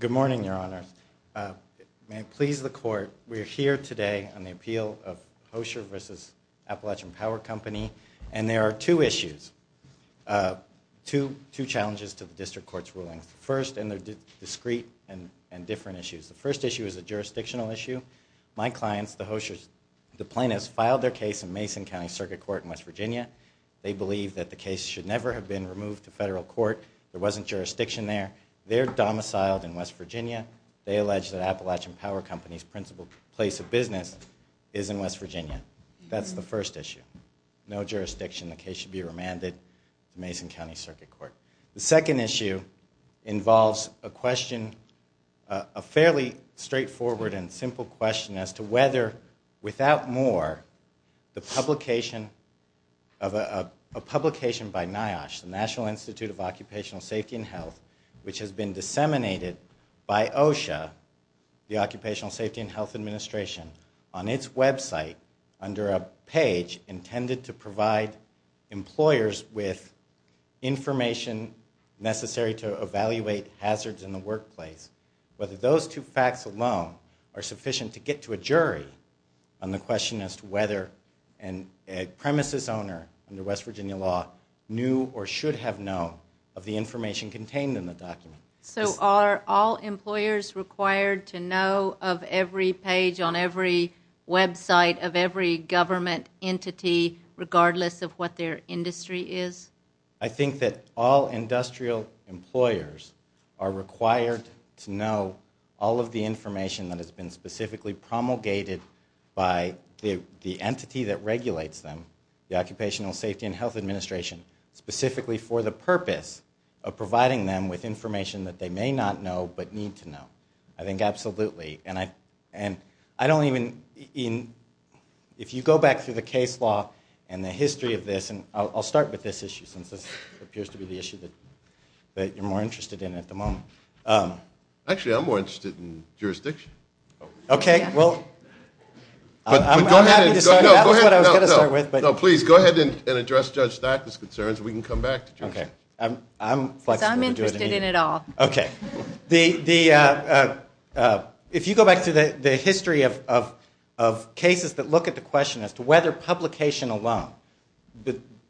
Good morning, Your Honor. May it please the Court, we are here today on the appeal of Hoschar v. Appalachian Power Company and there are two issues, two challenges to the District Court. The first issue is a jurisdictional issue. My clients, the Hoschars, the plaintiffs filed their case in Mason County Circuit Court in West Virginia. They believe that the case should never have been removed to federal court. There wasn't jurisdiction there. They are domiciled in West Virginia. They allege that Appalachian Power Company's principal place of business is in West Virginia. That's the first issue. No jurisdiction, the case should be remanded to Mason County Circuit Court. The second issue involves a question, a fairly straightforward and simple question as to whether, without more, a publication by NIOSH, the National Institute of Occupational Safety and Health, which has been disseminated by OSHA, the Occupational Safety and Health Administration, on its website under a page intended to provide employers with information necessary to evaluate hazards in the workplace, whether those two facts alone are sufficient to get to a jury on the question as to whether an premises owner under West Virginia law knew or should have known of the information contained in the document. So are all employers required to know of every page on every website of every government entity regardless of what their industry is? I think that all industrial employers are required to know all of the information that has been specifically promulgated by the entity that regulates them, the Occupational Safety and Health Administration, specifically for the purpose of providing them with information that they may not know but need to know. I think absolutely. And I don't even, if you go back through the case law and the history of this, and I'll start with this issue since this appears to be the issue that you're more interested in at the moment. Actually, I'm more interested in jurisdiction. Okay, well, I'm happy to start, that was what I was going to start with. No, please, go ahead and address Judge Stackley's concerns and we can come back to Judge Stackley. I'm interested in it all. If you go back to the history of cases that look at the question as to whether publication alone,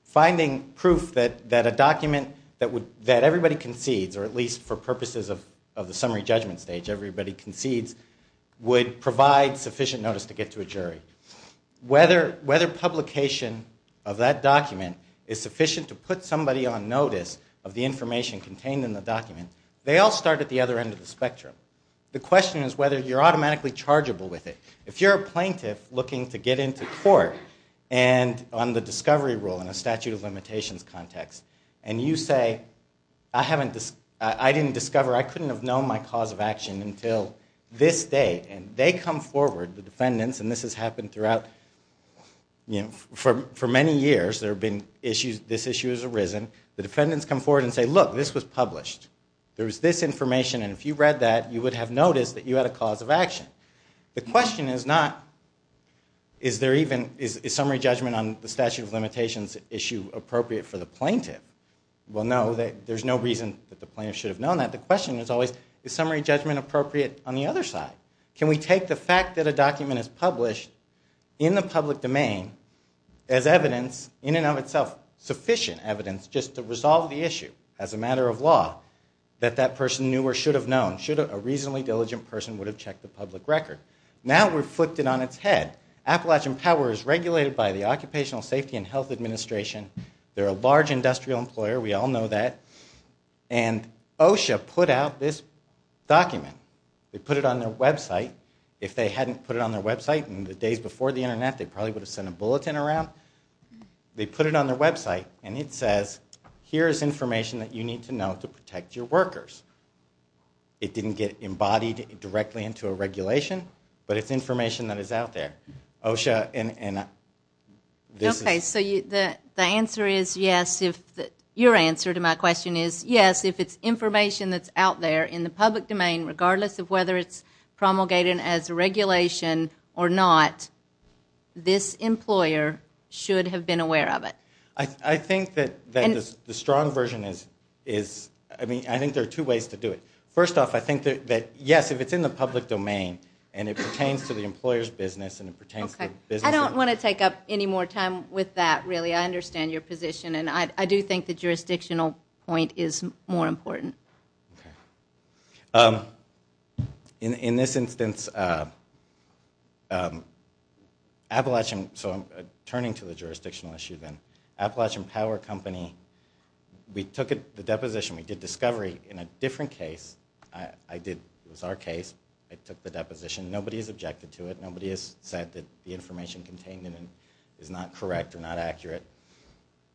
finding proof that a document that everybody concedes, or at least for purposes of the summary judgment stage, everybody concedes, would provide sufficient notice to get to a jury. Whether publication of that document is sufficient to put somebody on notice of the information contained in the document, they all start at the other end of the spectrum. The question is whether you're automatically chargeable with it. If you're a plaintiff looking to get into court on the discovery rule in a statute of limitations context, and you say, I didn't discover, I couldn't have known my cause of action until this date, and they come forward, the defendants, and this has happened throughout, for many years, there have been issues, this issue has arisen, the defendants come forward and say, look, this was published. There was this information, and if you read that, you would have noticed that you had a cause of action. The question is not, is there even, is summary judgment on the statute of limitations issue appropriate for the plaintiff? Well, no, there's no reason that the plaintiff should have known that. The question is always, is summary judgment appropriate on the other side? Can we take the fact that a document is published in the public domain as evidence, in and of itself sufficient evidence, just to resolve the issue as a matter of law, that that person knew or should have known, should a reasonably diligent person would have checked the public record. Now we've flipped it on its head. Appalachian Power is regulated by the Occupational Safety and Health Administration. They're a large industrial employer, we all know that, and OSHA put out this document. They put it on their website. If they hadn't put it on their website in the days before the internet, they probably would have sent a bulletin around. They put it on their website, and it says, here is information that you need to know to protect your workers. It didn't get embodied directly into a regulation, but it's information that is out there. OSHA and this is... Okay, so the answer is yes, your answer to my question is yes, if it's information that's out there in the public domain, regardless of whether it's promulgated as a regulation or not, this employer should have been aware of it. I think that the strong version is, I mean, I think there are two ways to do it. First off, I think that yes, if it's in the public domain, and it pertains to the employer's business, and it pertains to the business... Okay, I don't want to take up any more time with that, really. I understand your position, and I do think the jurisdictional point is more important. Okay. In this instance, Appalachian... So I'm turning to the jurisdictional issue then. Appalachian Power Company, we have a case. I took the deposition. Nobody has objected to it. Nobody has said that the information contained in it is not correct or not accurate.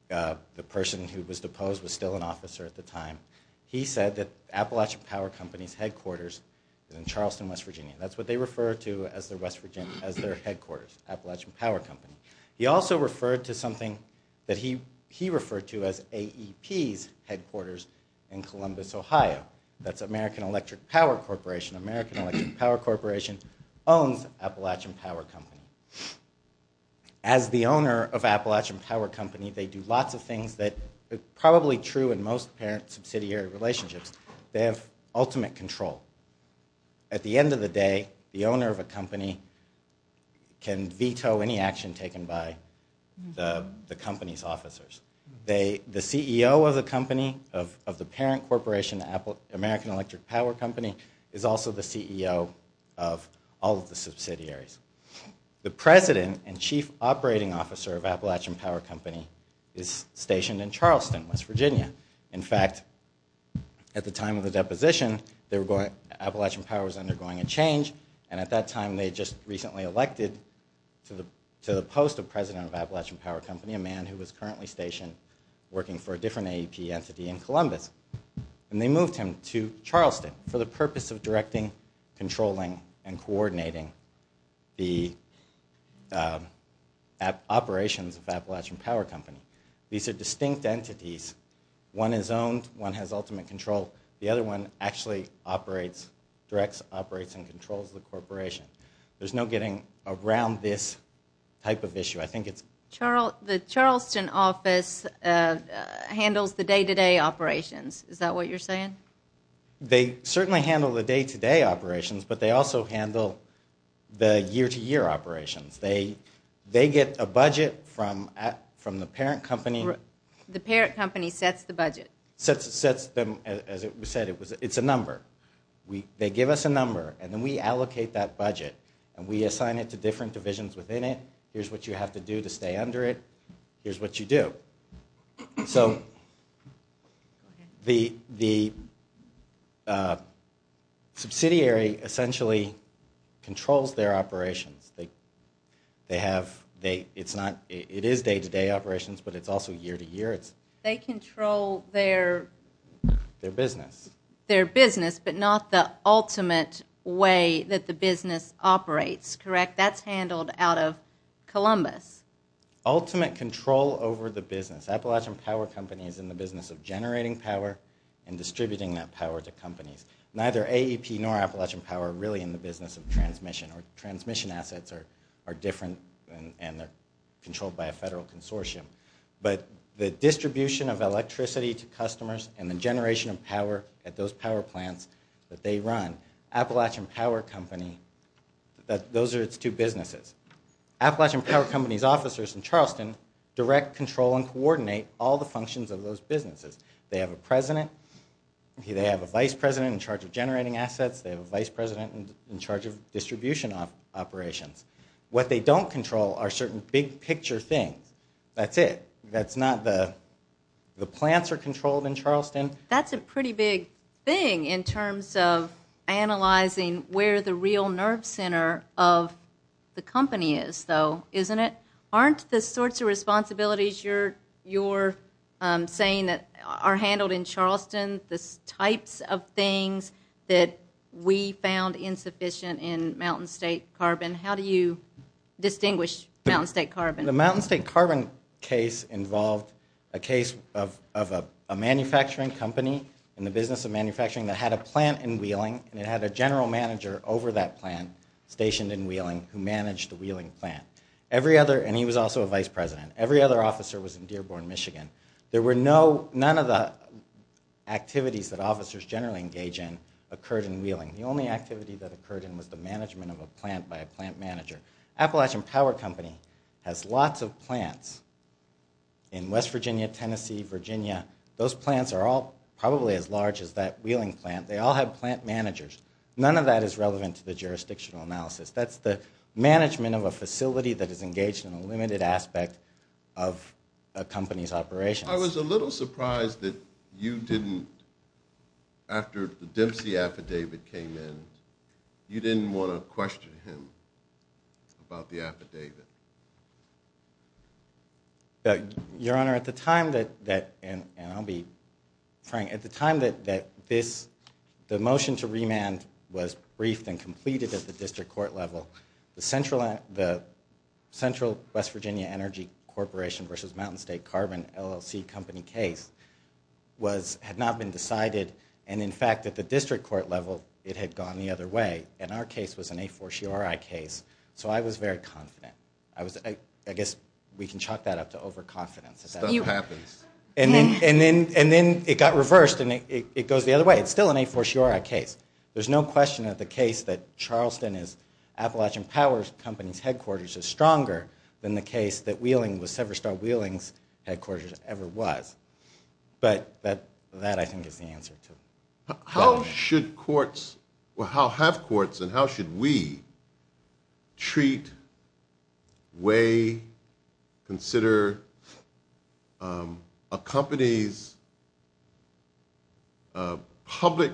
The person who was deposed was still an officer at the time. He said that Appalachian Power Company's headquarters is in Charleston, West Virginia. That's what they refer to as their headquarters, Appalachian Power Company. He also referred to something that he referred to as AEP's headquarters in Columbus, Ohio. That's American Electric Power Corporation. American Electric Power Corporation owns Appalachian Power Company. As the owner of Appalachian Power Company, they do lots of things that are probably true in most parent-subsidiary relationships. They have ultimate control. At the end of the day, the owner of a company can veto any action taken by the company's officers. The CEO of the company, of the parent corporation, American Electric Power Company, is also the CEO of all of the subsidiaries. The president and chief operating officer of Appalachian Power Company is stationed in Charleston, West Virginia. In fact, at the time of the deposition, Appalachian Power was undergoing a change, and at that time, there was a post of president of Appalachian Power Company, a man who was currently stationed working for a different AEP entity in Columbus. They moved him to Charleston for the purpose of directing, controlling, and coordinating the operations of Appalachian Power Company. These are distinct entities. One is owned. One has ultimate control. The other one actually operates, directs, operates, and controls the corporation. There's no getting around this type of issue. I think it's... The Charleston office handles the day-to-day operations. Is that what you're saying? They certainly handle the day-to-day operations, but they also handle the year-to-year operations. They get a budget from the parent company. The parent company sets the budget. Sets them, as we said, it's a number. They give us a number, and then we allocate that to the corporations within it. Here's what you have to do to stay under it. Here's what you do. The subsidiary essentially controls their operations. It is day-to-day operations, but it's also year-to-year. They control their... Their business. Their business, but not the ultimate way that the business operates, correct? That's handled out of Columbus. Ultimate control over the business. Appalachian Power Company is in the business of generating power and distributing that power to companies. Neither AEP nor Appalachian Power are really in the business of transmission, or transmission assets are different and they're controlled by a federal consortium, but the distribution of electricity to customers and the generation of power at those power plants that they run. Appalachian Power Company, those are its two businesses. Appalachian Power Company's officers in Charleston direct, control, and coordinate all the functions of those businesses. They have a president. They have a vice president in charge of generating assets. They have a vice president in charge of distribution operations. What they don't control are certain big picture things. That's it. That's not the... The plants are controlled in Charleston. That's a pretty big thing in terms of analyzing where the real nerve center of the company is though, isn't it? Aren't the sorts of responsibilities you're saying that are handled in Charleston the types of things that we found insufficient in Mountain State Carbon? How do you distinguish Mountain State Carbon? The Mountain State Carbon case involved a case of a manufacturing company in the business of manufacturing that had a plant in Wheeling and it had a general manager over that plant stationed in Wheeling who managed the Wheeling plant. Every other, and he was also a vice president, every other officer was in Dearborn, Michigan. There were no, none of the activities that officers generally engage in occurred in Wheeling. The only activity that occurred in was the management of a plant by a plant manager. Appalachian Power Company has lots of plants in West Virginia, Tennessee, Virginia. Those plants are all probably as large as that Wheeling plant. They all have plant managers. None of that is relevant to the jurisdictional analysis. That's the management of a facility that is engaged in a limited aspect of a company's operations. I was a little surprised that you didn't, after the Dempsey affidavit came in, you didn't want to question him about the affidavit. Your Honor, at the time that, and I'll be frank, at the time that this, the motion to remand was briefed and completed at the district court level, the Central West Virginia Energy Corporation v. Mountain State Carbon LLC company case was, had not been decided, and in fact at the district court level it had gone the other way, and our case was an A4CRI case, so I was very confident. I was, I guess we can chalk that up to overconfidence. Stuff happens. And then it got reversed and it goes the other way. It's still an A4CRI case. There's no question that the case that Charleston is Appalachian Power Company's headquarters is in the case that Wheeling, the Severstar Wheeling's headquarters ever was, but that I think is the answer to that. How should courts, or how have courts and how should we treat, weigh, consider a company's public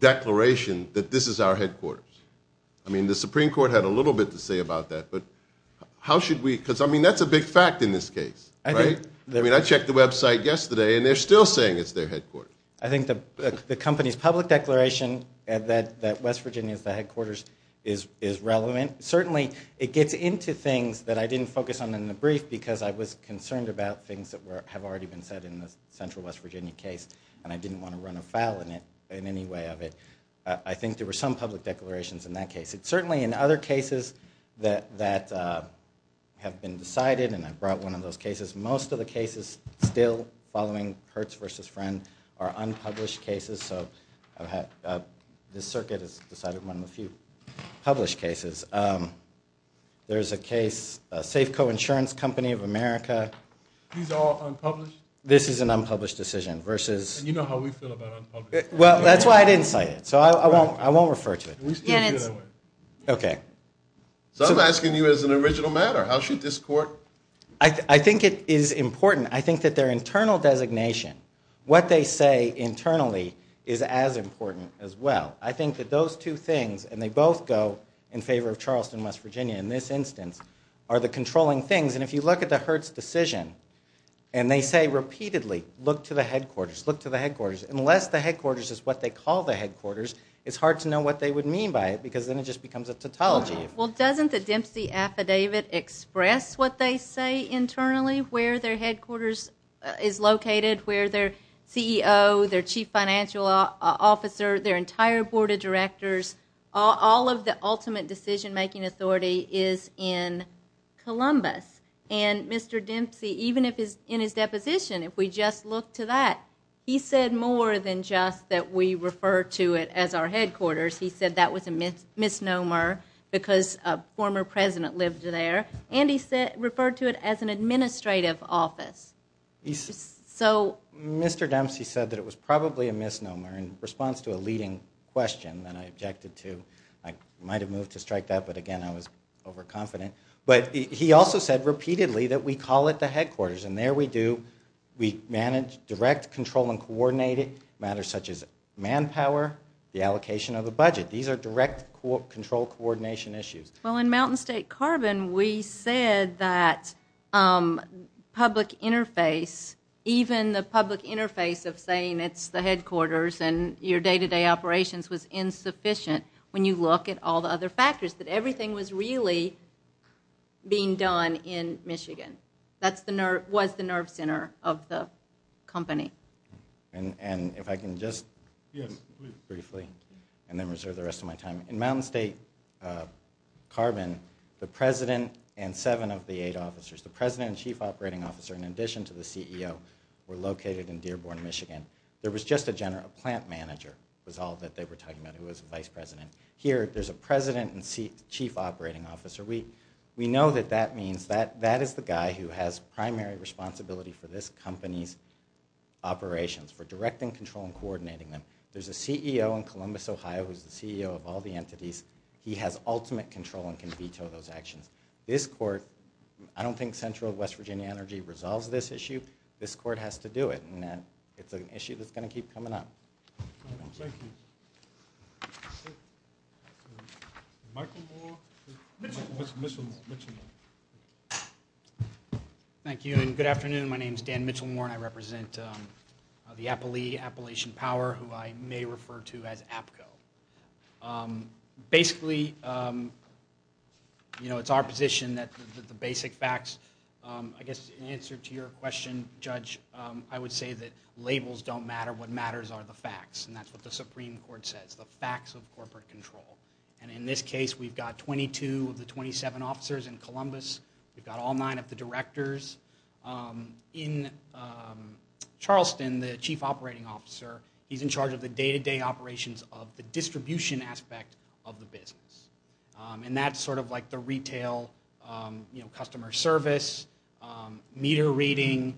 declaration that this is our headquarters? I mean the Supreme Court had a little bit to say about that, but how should we, because I mean that's a big fact in this case, right? I mean I checked the website yesterday and they're still saying it's their headquarters. I think the company's public declaration that West Virginia is the headquarters is relevant. Certainly it gets into things that I didn't focus on in the brief because I was concerned about things that have already been said in the Central West Virginia case, and I didn't want to run afoul in it in any way of it. I think there were some public declarations in that case. Certainly in other cases that have been decided, and I brought one of those cases, most of the cases still following Hertz v. Friend are unpublished cases, so this circuit has decided one of the few published cases. There's a case, Safeco Insurance Company of America, this is an unpublished decision versus, well that's why I didn't cite it, so I won't refer to it. So I'm asking you as an original matter, how should this court? I think it is important. I think that their internal designation, what they say internally is as important as well. I think that those two things, and they both go in favor of Charleston, West Virginia in this instance, are the controlling things, and if you look at the Hertz decision and they say repeatedly, look to the headquarters, look to the headquarters, unless the headquarters is what they call the headquarters, it's hard to know what they would mean by it because then it just becomes a tautology. Well doesn't the Dempsey affidavit express what they say internally, where their headquarters is located, where their CEO, their chief financial officer, their entire board of directors, all of the ultimate decision-making authority is in Columbus? And Mr. Dempsey, even in his statement that we refer to it as our headquarters, he said that was a misnomer because a former president lived there, and he referred to it as an administrative office. So Mr. Dempsey said that it was probably a misnomer in response to a leading question that I objected to. I might have moved to strike that, but again I was overconfident. But he also said repeatedly that we call it the headquarters, and there we do, we manage direct control and coordinated matters such as manpower, the allocation of the budget. These are direct control coordination issues. Well in Mountain State Carbon we said that public interface, even the public interface of saying it's the headquarters and your day-to-day operations was insufficient when you look at all the other factors, that everything was really being done in Michigan. That was the nerve center of the company. And if I can just briefly, and then reserve the rest of my time. In Mountain State Carbon, the president and seven of the eight officers, the president and chief operating officer in addition to the CEO, were located in Dearborn, Michigan. There was just a plant manager was all that they were talking about who was vice president. Here there's a president and chief operating officer. We know that that means that that is the guy who has primary responsibility for this company's operations, for directing control and coordinating them. There's a CEO in Columbus, Ohio who's the CEO of all the entities. He has ultimate control and can veto those actions. This court, I don't think Central West Virginia Energy resolves this issue. This court has to do it, and it's an issue that's going to keep coming up. Thank you. Michael Moore? Mitchell Moore. Thank you, and good afternoon. My name is Dan Mitchell Moore, and I represent the Appalachian Power, who I may refer to as APCO. Basically, you know, it's our position that the basic facts, I guess in answer to your question, Judge, I would say that labels don't matter. What matters are the facts, and that's what the Supreme Court says, the facts of corporate control. In this case, we've got 22 of the 27 officers in Columbus. We've got all nine of the directors. In Charleston, the chief operating officer, he's in charge of the day-to-day operations of the distribution aspect of the business. That's sort of like the retail, you know, customer service, meter reading,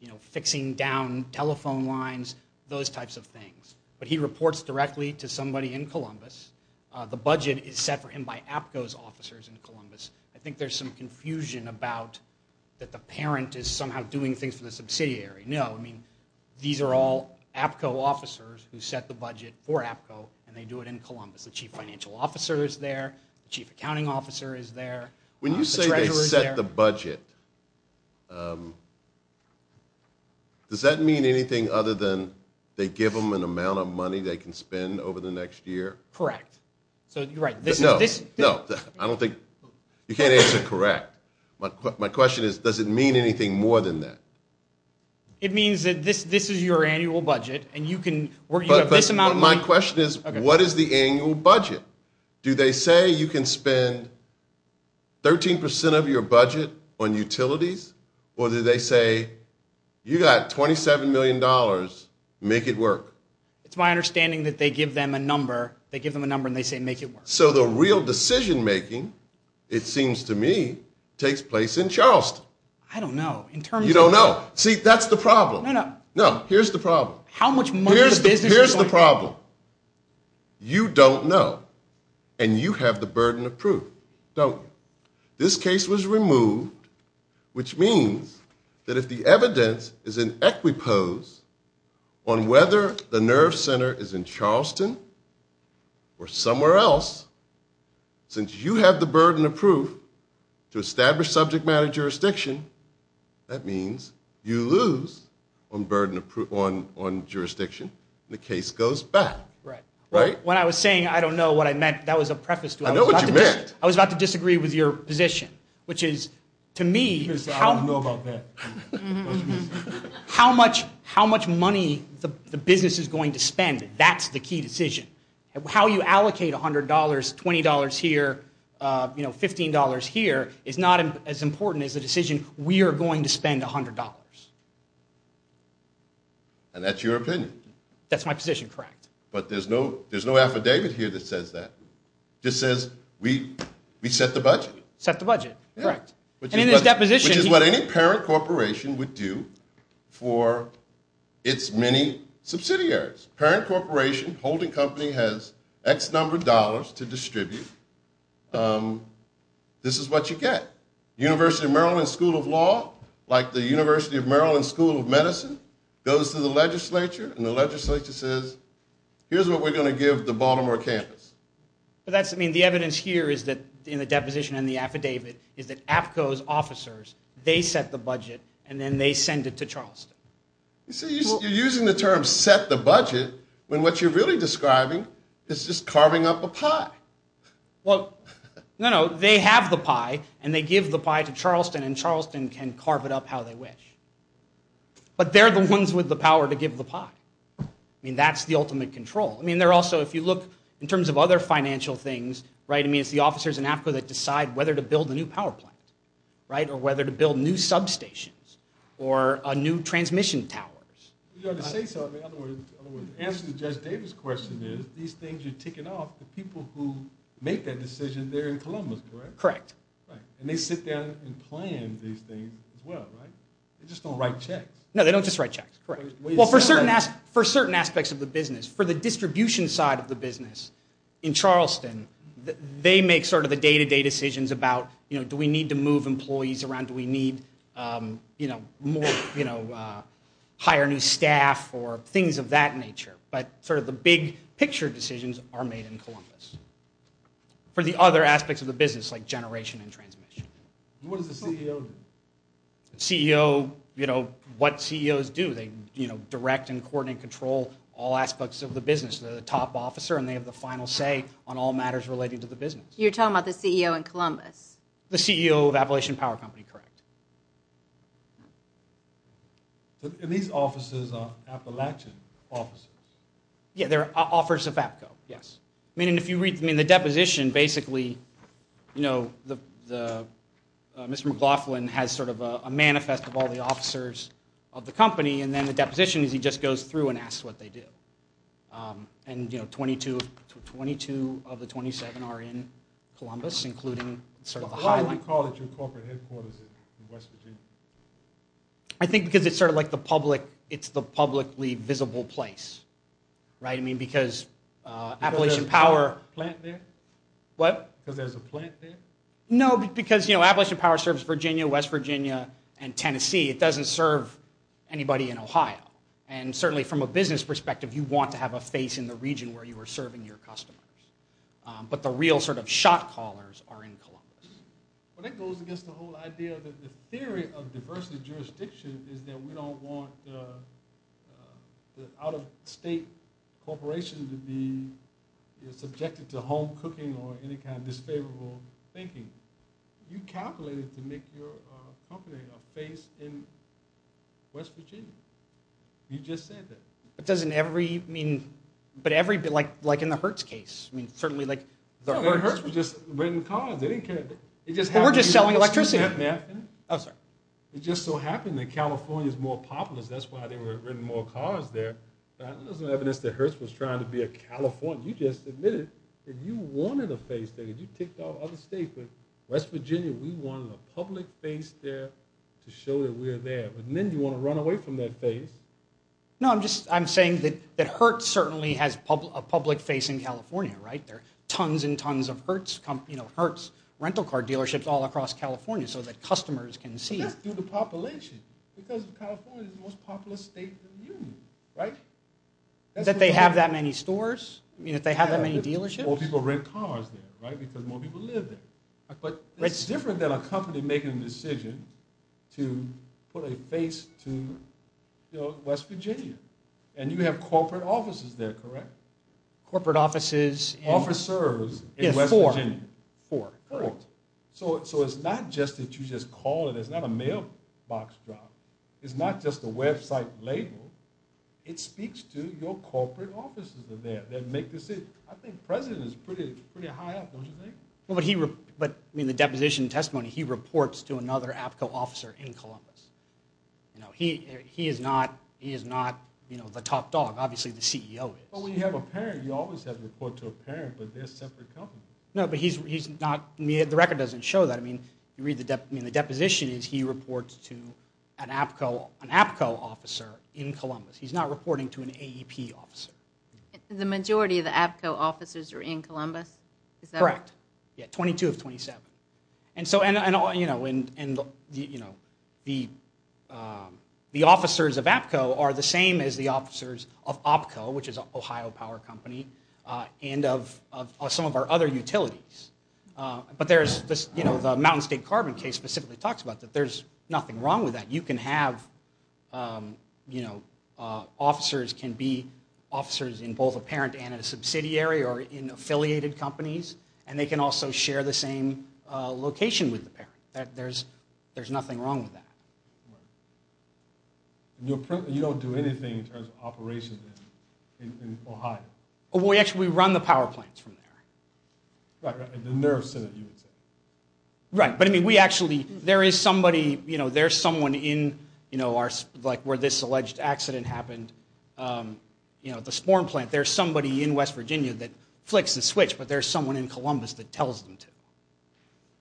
you know, fixing down telephone lines, those types of things. But he reports directly to somebody in Columbus. The budget is set for him by APCO's officers in Columbus. I think there's some confusion about that the parent is somehow doing things for the subsidiary. No, I mean, these are all APCO officers who set the budget for APCO, and they do it in Columbus. The chief financial officer is there. The chief accounting officer is there. When you say they set the budget, does that mean anything other than they give them an amount of money they can spend over the next year? Correct. So you're right. No, no, I don't think, you can't answer correct. My question is, does it mean anything more than that? It means that this is your annual budget, and you can, you have this amount of money. My question is, what is the annual budget? Do they say you can spend 13% of your budget on utilities, or do they say, you got $27 million, make it work? It's my understanding that they give them a number, they give them a number, and they say make it work. So the real decision making, it seems to me, takes place in Charleston. I don't know. You don't know. See, that's the problem. No, no. No, here's the problem. Here's the problem. You don't know, and you have the burden of proof, don't you? This case was removed, which means that if the evidence is in equipose on whether the NERV Center is in Charleston or somewhere else, since you have the burden of proof to one jurisdiction, the case goes back, right? When I was saying I don't know what I meant, that was a preface to it. I know what you meant. I was about to disagree with your position, which is, to me, how much money the business is going to spend, that's the key decision. How you allocate $100, $20 here, $15 here, is not as important as the decision, we are going to spend $100. And that's your opinion. That's my position, correct. But there's no affidavit here that says that. It just says we set the budget. Set the budget, correct. And in this deposition... Which is what any parent corporation would do for its many subsidiaries. Parent corporation, holding company, has X number of dollars to distribute. This is what you get. University of Maryland School of Law, like the University of Maryland School of Medicine, goes to the legislature, and the legislature says, here's what we're going to give the Baltimore campus. The evidence here is that, in the deposition and the affidavit, is that APCO's officers, they set the budget, and then they send it to Charleston. You're using the term, set the budget, when what you're really describing is just carving up a pie. Well, no, no, they have the pie, and they give the pie to Charleston, and Charleston can carve it up how they wish. But they're the ones with the power to give the pie. That's the ultimate control. I mean, they're also, if you look, in terms of other financial things, it's the officers in APCO that decide whether to build a new power plant, or whether to build new substations, or new transmission towers. In other words, the answer to Judge Davis' question is, these things are ticking off, the people who make that decision, they're in Columbus, correct? Correct. And they sit down and plan these things as well, right? They just don't write checks. No, they don't just write checks, correct. Well, for certain aspects of the business, for the distribution side of the business in Charleston, they make sort of the day-to-day decisions about, you know, do we need to move employees around, do we need, you know, hire new staff, or things of that nature. But sort of the big-picture decisions are made in Columbus. For the other aspects of the business, like generation and transmission. What does the CEO do? The CEO, you know, what CEOs do, they direct and coordinate and control all aspects of the business. They're the top officer, and they have the final say on all matters relating to the business. You're talking about the CEO in Columbus? The CEO of Appalachian Power Company, correct. And these officers are Appalachian officers? Yeah, they're officers of APCO, yes. I mean, if you read the deposition, basically, you know, Mr. McLaughlin has sort of a manifest of all the officers of the company, and then the deposition is he just goes through and asks what they do. And, you know, 22 of the 27 are in Columbus, including sort of the High Line. Why do you call it your corporate headquarters in West Virginia? I think because it's sort of like the public, it's the publicly visible place. Right? I mean, because Appalachian Power... Because there's a plant there? What? Because there's a plant there? No, because, you know, Appalachian Power serves Virginia, West Virginia, and Tennessee. It doesn't serve anybody in Ohio. And certainly from a business perspective, you want to have a face in the region where you are serving your customers. But the real sort of shot callers are in Columbus. Well, that goes against the whole idea that the theory of diversity of jurisdiction is that we don't want the out-of-state corporations to be subjected to home cooking or any kind of disfavorable thinking. You calculated to make your company a face in West Virginia. You just said that. But doesn't every... I mean... But every... Like in the Hertz case. I mean, certainly like... No, but Hertz was just renting cars. They didn't care. But we're just selling electricity. Oh, sorry. It just so happened that California's more populous. That's why they were renting more cars there. There's no evidence that Hertz was trying to be a Californian. You just admitted that you wanted a face there. You ticked off other states, but West Virginia, we wanted a public face there to show that we're there. But then you want to run away from that face. No, I'm just... I'm saying that Hertz certainly has a public face in California, right? There are tons and tons of Hertz rental car dealerships all across California so that customers can see it. But that's due to population. Because California is the most populous state in the union, right? That they have that many stores? That they have that many dealerships? More people rent cars there, right? Because more people live there. But it's different than a company making a decision to put a face to West Virginia. And you have corporate offices there, correct? Corporate offices... Officers in West Virginia. Four. Four. Correct. So it's not just that you just call it. It's not a mailbox drop. It's not just a website label. It speaks to your corporate offices are there that make decisions. I think the president is pretty high up, don't you think? But in the deposition testimony, he reports to another APCO officer in Columbus. He is not the top dog. Obviously, the CEO is. But when you have a parent, you always have to report to a parent. But they're a separate company. No, but he's not... The record doesn't show that. I mean, the deposition is he reports to an APCO officer in Columbus. He's not reporting to an AEP officer. The majority of the APCO officers are in Columbus? Correct. Yeah, 22 of 27. And the officers of APCO are the same as the officers of OPCO, which is an Ohio power company, and of some of our other utilities. But the Mountain State Carbon case specifically talks about that. There's nothing wrong with that. You can have officers can be officers in both a parent and a subsidiary or in affiliated companies, and they can also share the same location with the parent. There's nothing wrong with that. You don't do anything in terms of operations in Ohio? Well, actually, we run the power plants from there. Right, right. The nerve center, you would say. Right. But, I mean, we actually, there is somebody, you know, there's someone in, you know, where this alleged accident happened, you know, the Sporn plant. There's somebody in West Virginia that flicks the switch, but there's someone in Columbus that tells them to.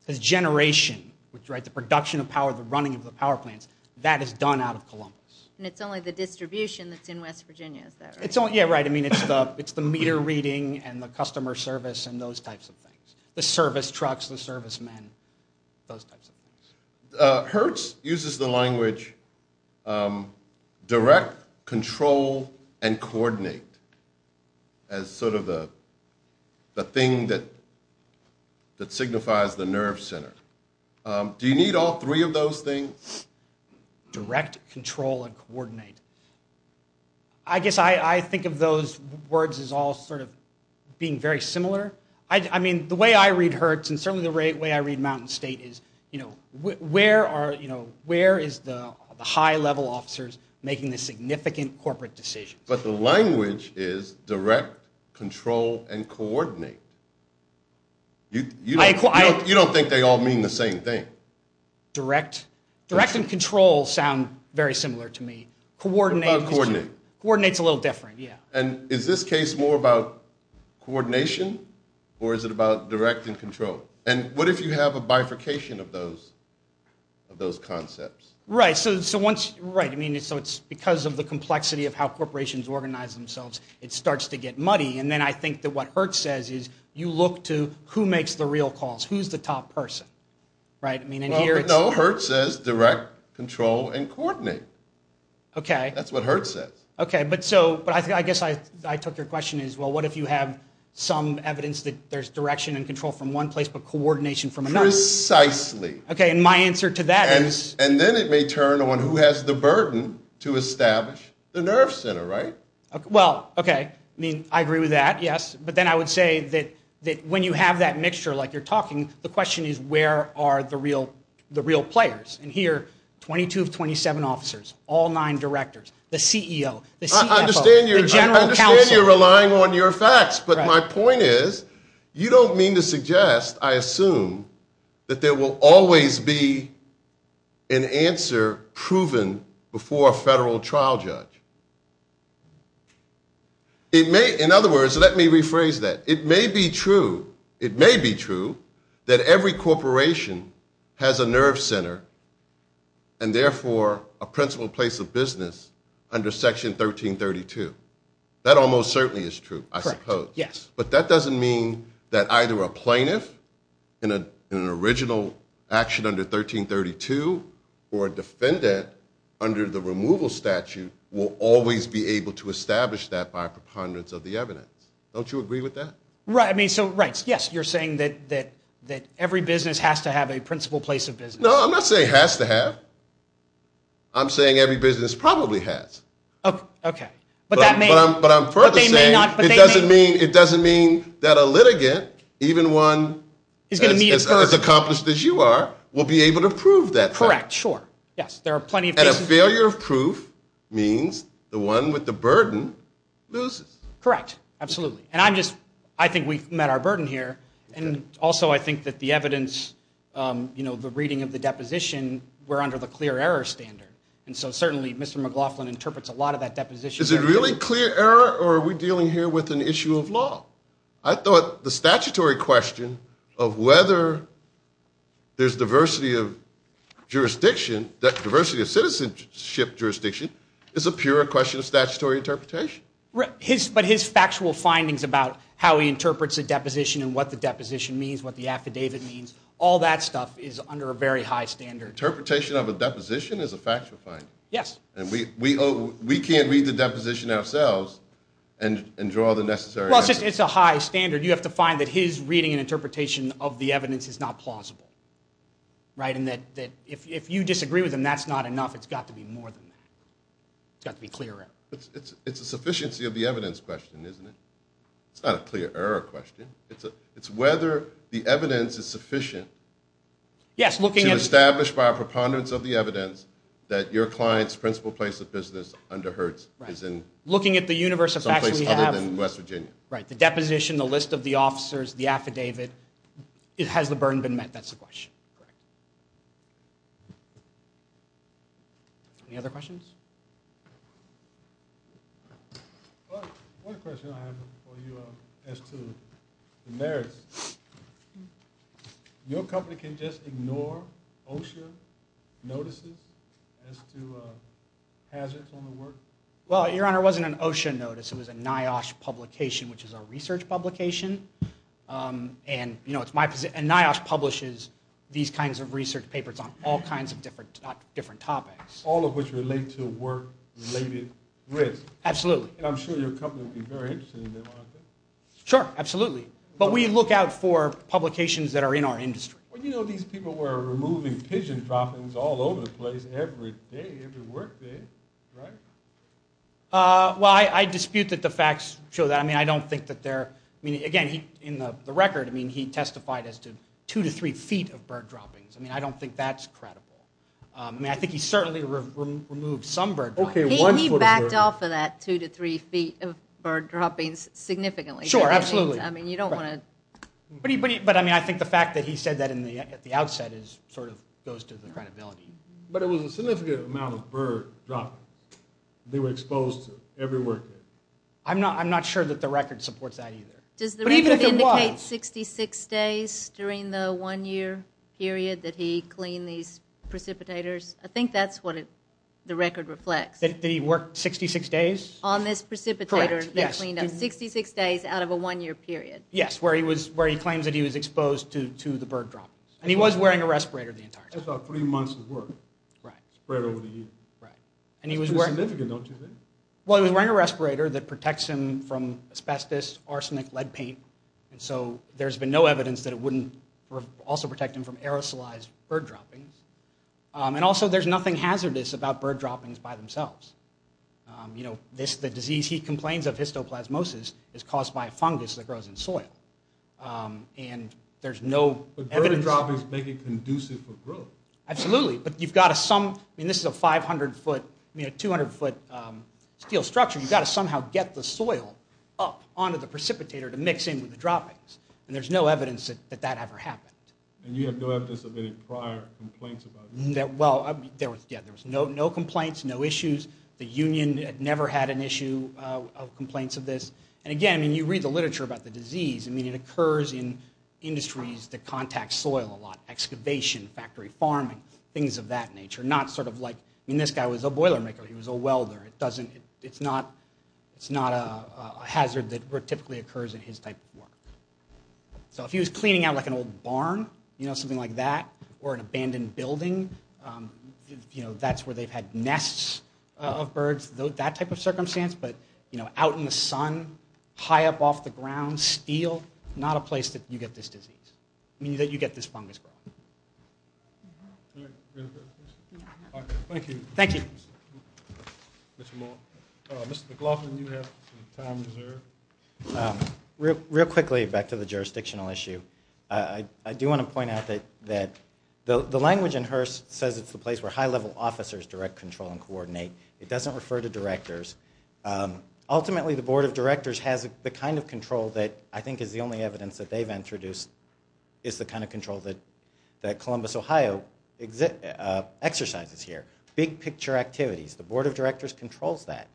The generation, right, the production of power, the running of the power plants, that is done out of Columbus. And it's only the distribution that's in West Virginia, is that right? Yeah, right. I mean, it's the meter reading and the customer service and those types of things. The service trucks, the servicemen, those types of things. Hertz uses the language direct, control, and coordinate as sort of the thing that signifies the nerve center. Do you need all three of those things? Direct, control, and coordinate. I guess I think of those words as all sort of being very similar. I mean, the way I read Hertz, and certainly the way I read Mountain State is, you know, where is the high-level officers making the significant corporate decisions? But the language is direct, control, and coordinate. You don't think they all mean the same thing. Direct and control sound very similar to me. What about coordinate? Coordinate's a little different, yeah. And is this case more about coordination, or is it about direct and control? And what if you have a bifurcation of those concepts? Right. So it's because of the complexity of how corporations organize themselves, it starts to get muddy. And then I think that what Hertz says is you look to who makes the real calls, who's the top person. No, Hertz says direct, control, and coordinate. That's what Hertz says. Okay, but I guess I took your question as, well, what if you have some evidence that there's direction and control from one place but coordination from another? Precisely. Okay, and my answer to that is? And then it may turn on who has the burden to establish the nerve center, right? Well, okay, I mean, I agree with that, yes, but then I would say that when you have that mixture like you're talking, the question is where are the real players? And here, 22 of 27 officers, all nine directors, the CEO, the CFO, the general counsel. I understand you're relying on your facts, but my point is you don't mean to suggest, I assume, that there will always be an answer proven before a federal trial judge. In other words, let me rephrase that. It may be true that every corporation has a nerve center and therefore a principal place of business under Section 1332. That almost certainly is true, I suppose. Yes. But that doesn't mean that either a plaintiff in an original action under 1332 or a defendant under the removal statute will always be able to establish that by preponderance of the evidence. Don't you agree with that? Right, I mean, so, right, yes, you're saying that every business has to have a principal place of business. No, I'm not saying it has to have. I'm saying every business probably has. Okay. But I'm further saying it doesn't mean that a litigant, even one as accomplished as you are, will be able to prove that. Correct, sure. Yes, there are plenty of cases. And a failure of proof means the one with the burden loses. Correct, absolutely. And I think we've met our burden here, and also I think that the evidence, you know, the reading of the deposition, we're under the clear error standard. And so certainly Mr. McLaughlin interprets a lot of that deposition. Is it really clear error, or are we dealing here with an issue of law? I thought the statutory question of whether there's diversity of jurisdiction, diversity of citizenship jurisdiction, is a pure question of statutory interpretation. But his factual findings about how he interprets a deposition and what the deposition means, what the affidavit means, all that stuff is under a very high standard. Interpretation of a deposition is a factual finding. Yes. And we can't read the deposition ourselves and draw the necessary answers. Well, it's a high standard. You have to find that his reading and interpretation of the evidence is not plausible, right? And that if you disagree with him, that's not enough. It's got to be more than that. It's got to be clear error. It's a sufficiency of the evidence question, isn't it? It's not a clear error question. It's whether the evidence is sufficient to establish by a preponderance of the evidence that your client's principal place of business under Hertz is in some place other than West Virginia. Right. The deposition, the list of the officers, the affidavit, has the burden been met? That's the question. Correct. Any other questions? One question I have for you as to the merits. Your company can just ignore OSHA notices as to hazards on the work? Well, Your Honor, it wasn't an OSHA notice. It was a NIOSH publication, which is a research publication. And, you know, it's my position. And NIOSH publishes these kinds of research papers on all kinds of different topics. All of which relate to work-related risk. Absolutely. And I'm sure your company would be very interested in them, aren't they? Sure. Absolutely. But we look out for publications that are in our industry. Well, you know these people were removing pigeon droppings all over the place every day, every work day, right? Well, I dispute that the facts show that. I mean, I don't think that they're – I mean, again, in the record, I mean, he testified as to two to three feet of bird droppings. I mean, I don't think that's credible. I mean, I think he certainly removed some bird droppings. He backed off of that two to three feet of bird droppings significantly. Sure, absolutely. I mean, you don't want to – But, I mean, I think the fact that he said that at the outset sort of goes to the credibility. But it was a significant amount of bird droppings. They were exposed to every work day. I'm not sure that the record supports that either. But even if it was – Does the record indicate 66 days during the one-year period that he cleaned these precipitators? I think that's what the record reflects. That he worked 66 days? On this precipitator. Correct, yes. He cleaned up 66 days out of a one-year period. Yes, where he claims that he was exposed to the bird droppings. And he was wearing a respirator the entire time. That's about three months of work spread over the year. Right. It's significant, don't you think? Well, he was wearing a respirator that protects him from asbestos, arsenic, lead paint. And so there's been no evidence that it wouldn't also protect him from aerosolized bird droppings. And also, there's nothing hazardous about bird droppings by themselves. You know, the disease he complains of, histoplasmosis, is caused by a fungus that grows in soil. And there's no evidence. But bird droppings make it conducive for growth. Absolutely. But you've got to some – I mean, this is a 500-foot – I mean, a 200-foot steel structure. You've got to somehow get the soil up onto the precipitator to mix in with the droppings. And there's no evidence that that ever happened. And you have no evidence of any prior complaints about it? Well, yeah, there was no complaints, no issues. The union never had an issue of complaints of this. And, again, I mean, you read the literature about the disease. I mean, it occurs in industries that contact soil a lot – excavation, factory farming, things of that nature. Not sort of like – I mean, this guy was a boilermaker. He was a welder. It doesn't – it's not a hazard that typically occurs in his type of work. So if he was cleaning out, like, an old barn, you know, something like that, or an abandoned building, you know, that's where they've had nests of birds, that type of circumstance. But, you know, out in the sun, high up off the ground, steel, not a place that you get this disease. I mean, that you get this fungus growth. Thank you. Thank you. Mr. McLaughlin, you have some time reserved. Real quickly, back to the jurisdictional issue. I do want to point out that the language in HRSA says it's the place where high-level officers direct, control, and coordinate. It doesn't refer to directors. Ultimately, the Board of Directors has the kind of control that I think is the only evidence that they've introduced is the kind of control that Columbus, Ohio exercises here, big-picture activities. The Board of Directors controls that.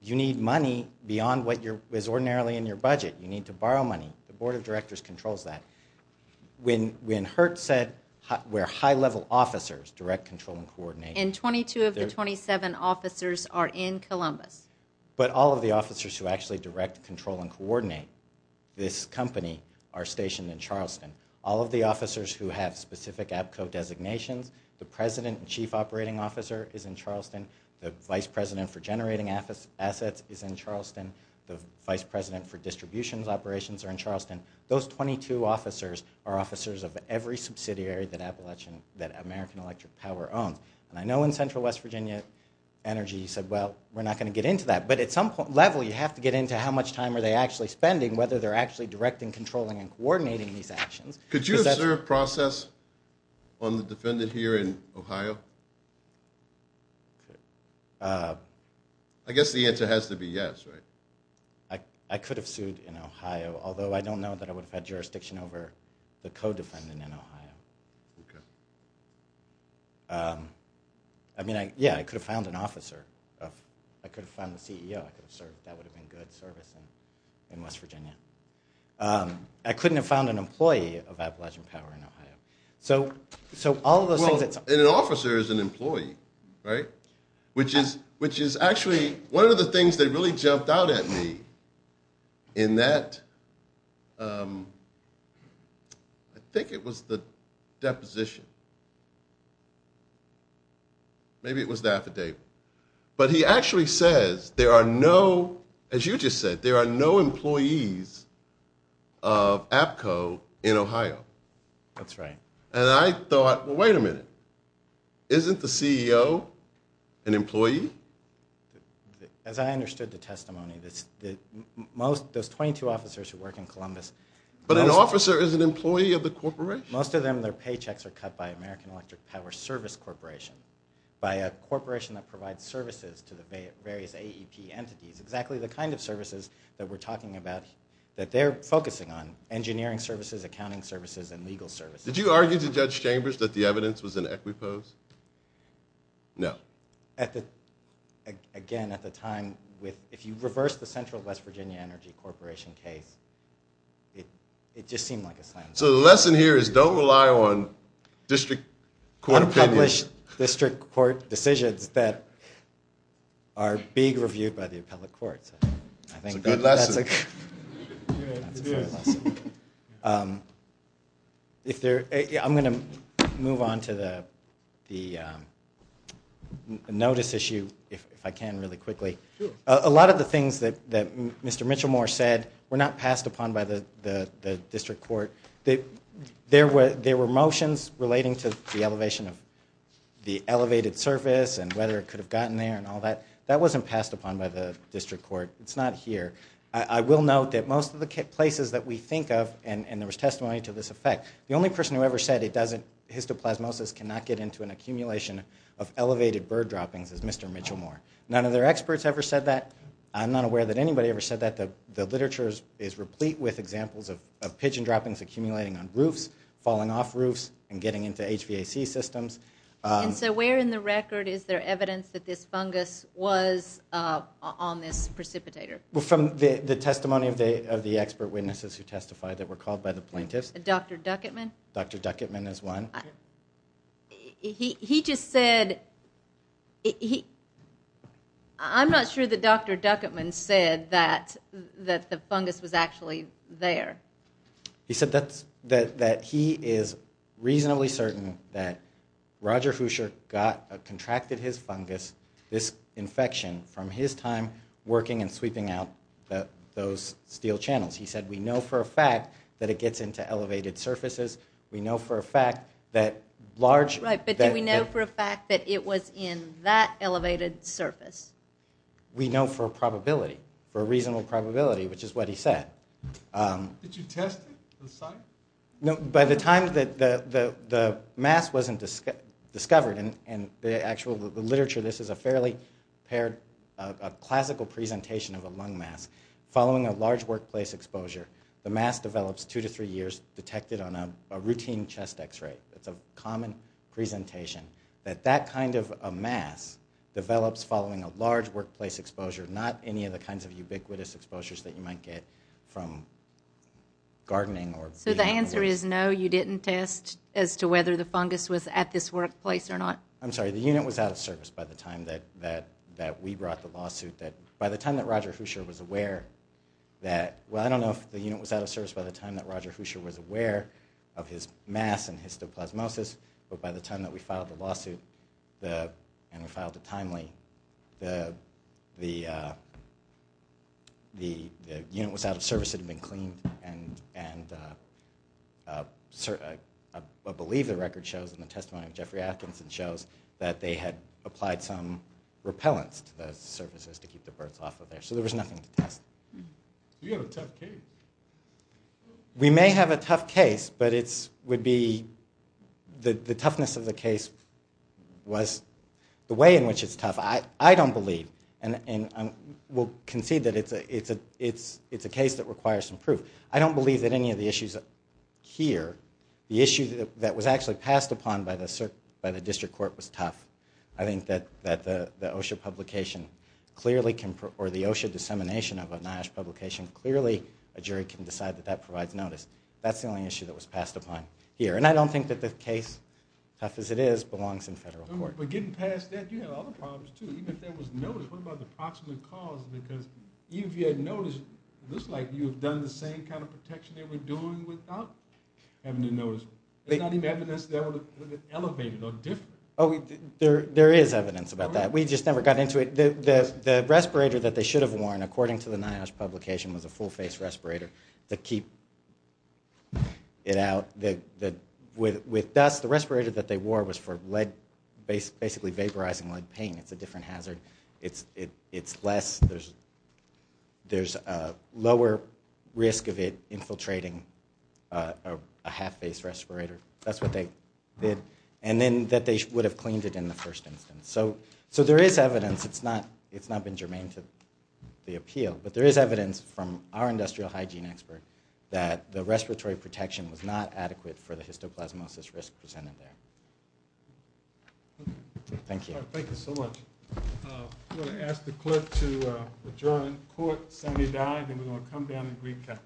You need money beyond what is ordinarily in your budget. You need to borrow money. The Board of Directors controls that. When HERT said we're high-level officers, direct, control, and coordinate. And 22 of the 27 officers are in Columbus. But all of the officers who actually direct, control, and coordinate this company are stationed in Charleston. All of the officers who have specific APCO designations, the president and chief operating officer is in Charleston, the vice president for generating assets is in Charleston, the vice president for distributions operations are in Charleston. Those 22 officers are officers of every subsidiary that American Electric Power owns. And I know in Central West Virginia Energy said, well, we're not going to get into that. But at some level, you have to get into how much time are they actually spending, whether they're actually directing, controlling, and coordinating these actions. Could you observe process on the defendant here in Ohio? I guess the answer has to be yes, right? I could have sued in Ohio, although I don't know that I would have had jurisdiction over the co-defendant in Ohio. Okay. I mean, yeah, I could have found an officer. I could have found the CEO. I could have served. That would have been good service in West Virginia. I couldn't have found an employee of Appalachian Power in Ohio. So all of those things. Well, and an officer is an employee, right? Which is actually one of the things that really jumped out at me in that I think it was the deposition. Maybe it was the affidavit. But he actually says there are no, as you just said, there are no employees of APCO in Ohio. That's right. And I thought, well, wait a minute. Isn't the CEO an employee? As I understood the testimony, those 22 officers who work in Columbus. But an officer is an employee of the corporation? Most of them, their paychecks are cut by American Electric Power Service Corporation, by a corporation that provides services to the various AEP entities, exactly the kind of services that we're talking about that they're focusing on, engineering services, accounting services, and legal services. Did you argue to Judge Chambers that the evidence was in Equipose? No. Again, at the time, if you reverse the Central West Virginia Energy Corporation case, it just seemed like a slam dunk. So the lesson here is don't rely on district court opinion. There are other district court decisions that are being reviewed by the appellate courts. That's a good lesson. I'm going to move on to the notice issue, if I can, really quickly. A lot of the things that Mr. Mitchellmore said were not passed upon by the district court. There were motions relating to the elevation of the elevated surface and whether it could have gotten there and all that. That wasn't passed upon by the district court. It's not here. I will note that most of the places that we think of, and there was testimony to this effect, the only person who ever said histoplasmosis cannot get into an accumulation of elevated bird droppings is Mr. Mitchellmore. None of their experts ever said that. I'm not aware that anybody ever said that. The literature is replete with examples of pigeon droppings accumulating on roofs, falling off roofs, and getting into HVAC systems. So where in the record is there evidence that this fungus was on this precipitator? From the testimony of the expert witnesses who testified that were called by the plaintiffs. Dr. Duckettman? Dr. Duckettman is one. He just said, I'm not sure that Dr. Duckettman said that the fungus was actually there. He said that he is reasonably certain that Roger Hoosier contracted his fungus, this infection, from his time working and sweeping out those steel channels. He said we know for a fact that it gets into elevated surfaces. We know for a fact that large- Right, but do we know for a fact that it was in that elevated surface? We know for a probability, for a reasonable probability, which is what he said. Did you test it on the site? No. By the time that the mass wasn't discovered, and the actual literature, this is a fairly paired, a classical presentation of a lung mass. Following a large workplace exposure, the mass develops two to three years, detected on a routine chest X-ray. It's a common presentation that that kind of a mass develops following a large workplace exposure, not any of the kinds of ubiquitous exposures that you might get from gardening or- So the answer is no, you didn't test as to whether the fungus was at this workplace or not? I'm sorry, the unit was out of service by the time that we brought the lawsuit. By the time that Roger Hoosier was aware that, well, I don't know if the unit was out of service by the time that Roger Hoosier was aware of his mass and histoplasmosis, but by the time that we filed the lawsuit and we filed it timely, the unit was out of service. It had been cleaned, and I believe the record shows, and the testimony of Jeffrey Atkinson shows, that they had applied some repellents to the surfaces to keep the birds off of there. So there was nothing to test. Do you have a tough case? We may have a tough case, but it would be- the toughness of the case was- the way in which it's tough, I don't believe, and we'll concede that it's a case that requires some proof. I don't believe that any of the issues here, the issue that was actually passed upon by the district court was tough. I think that the OSHA publication clearly can- or the OSHA dissemination of a NIOSH publication, clearly a jury can decide that that provides notice. That's the only issue that was passed upon here, and I don't think that the case, tough as it is, belongs in federal court. But getting past that, you had other problems, too. Even if there was notice, what about the proximate cause? Because even if you had notice, it looks like you have done the same kind of protection they were doing without having to notice. It's not even evidence that was elevated or different. Oh, there is evidence about that. We just never got into it. The respirator that they should have worn, according to the NIOSH publication, was a full-face respirator to keep it out. With dust, the respirator that they wore was for basically vaporizing lead paint. It's a different hazard. It's less- there's a lower risk of it infiltrating a half-face respirator. That's what they did. And then that they would have cleaned it in the first instance. So there is evidence. It's not been germane to the appeal. But there is evidence from our industrial hygiene expert that the respiratory protection was not adequate for the histoplasmosis risk presented there. Thank you. Thank you so much. I'm going to ask the clerk to adjourn the court. Senator Dyer, then we're going to come down and recap.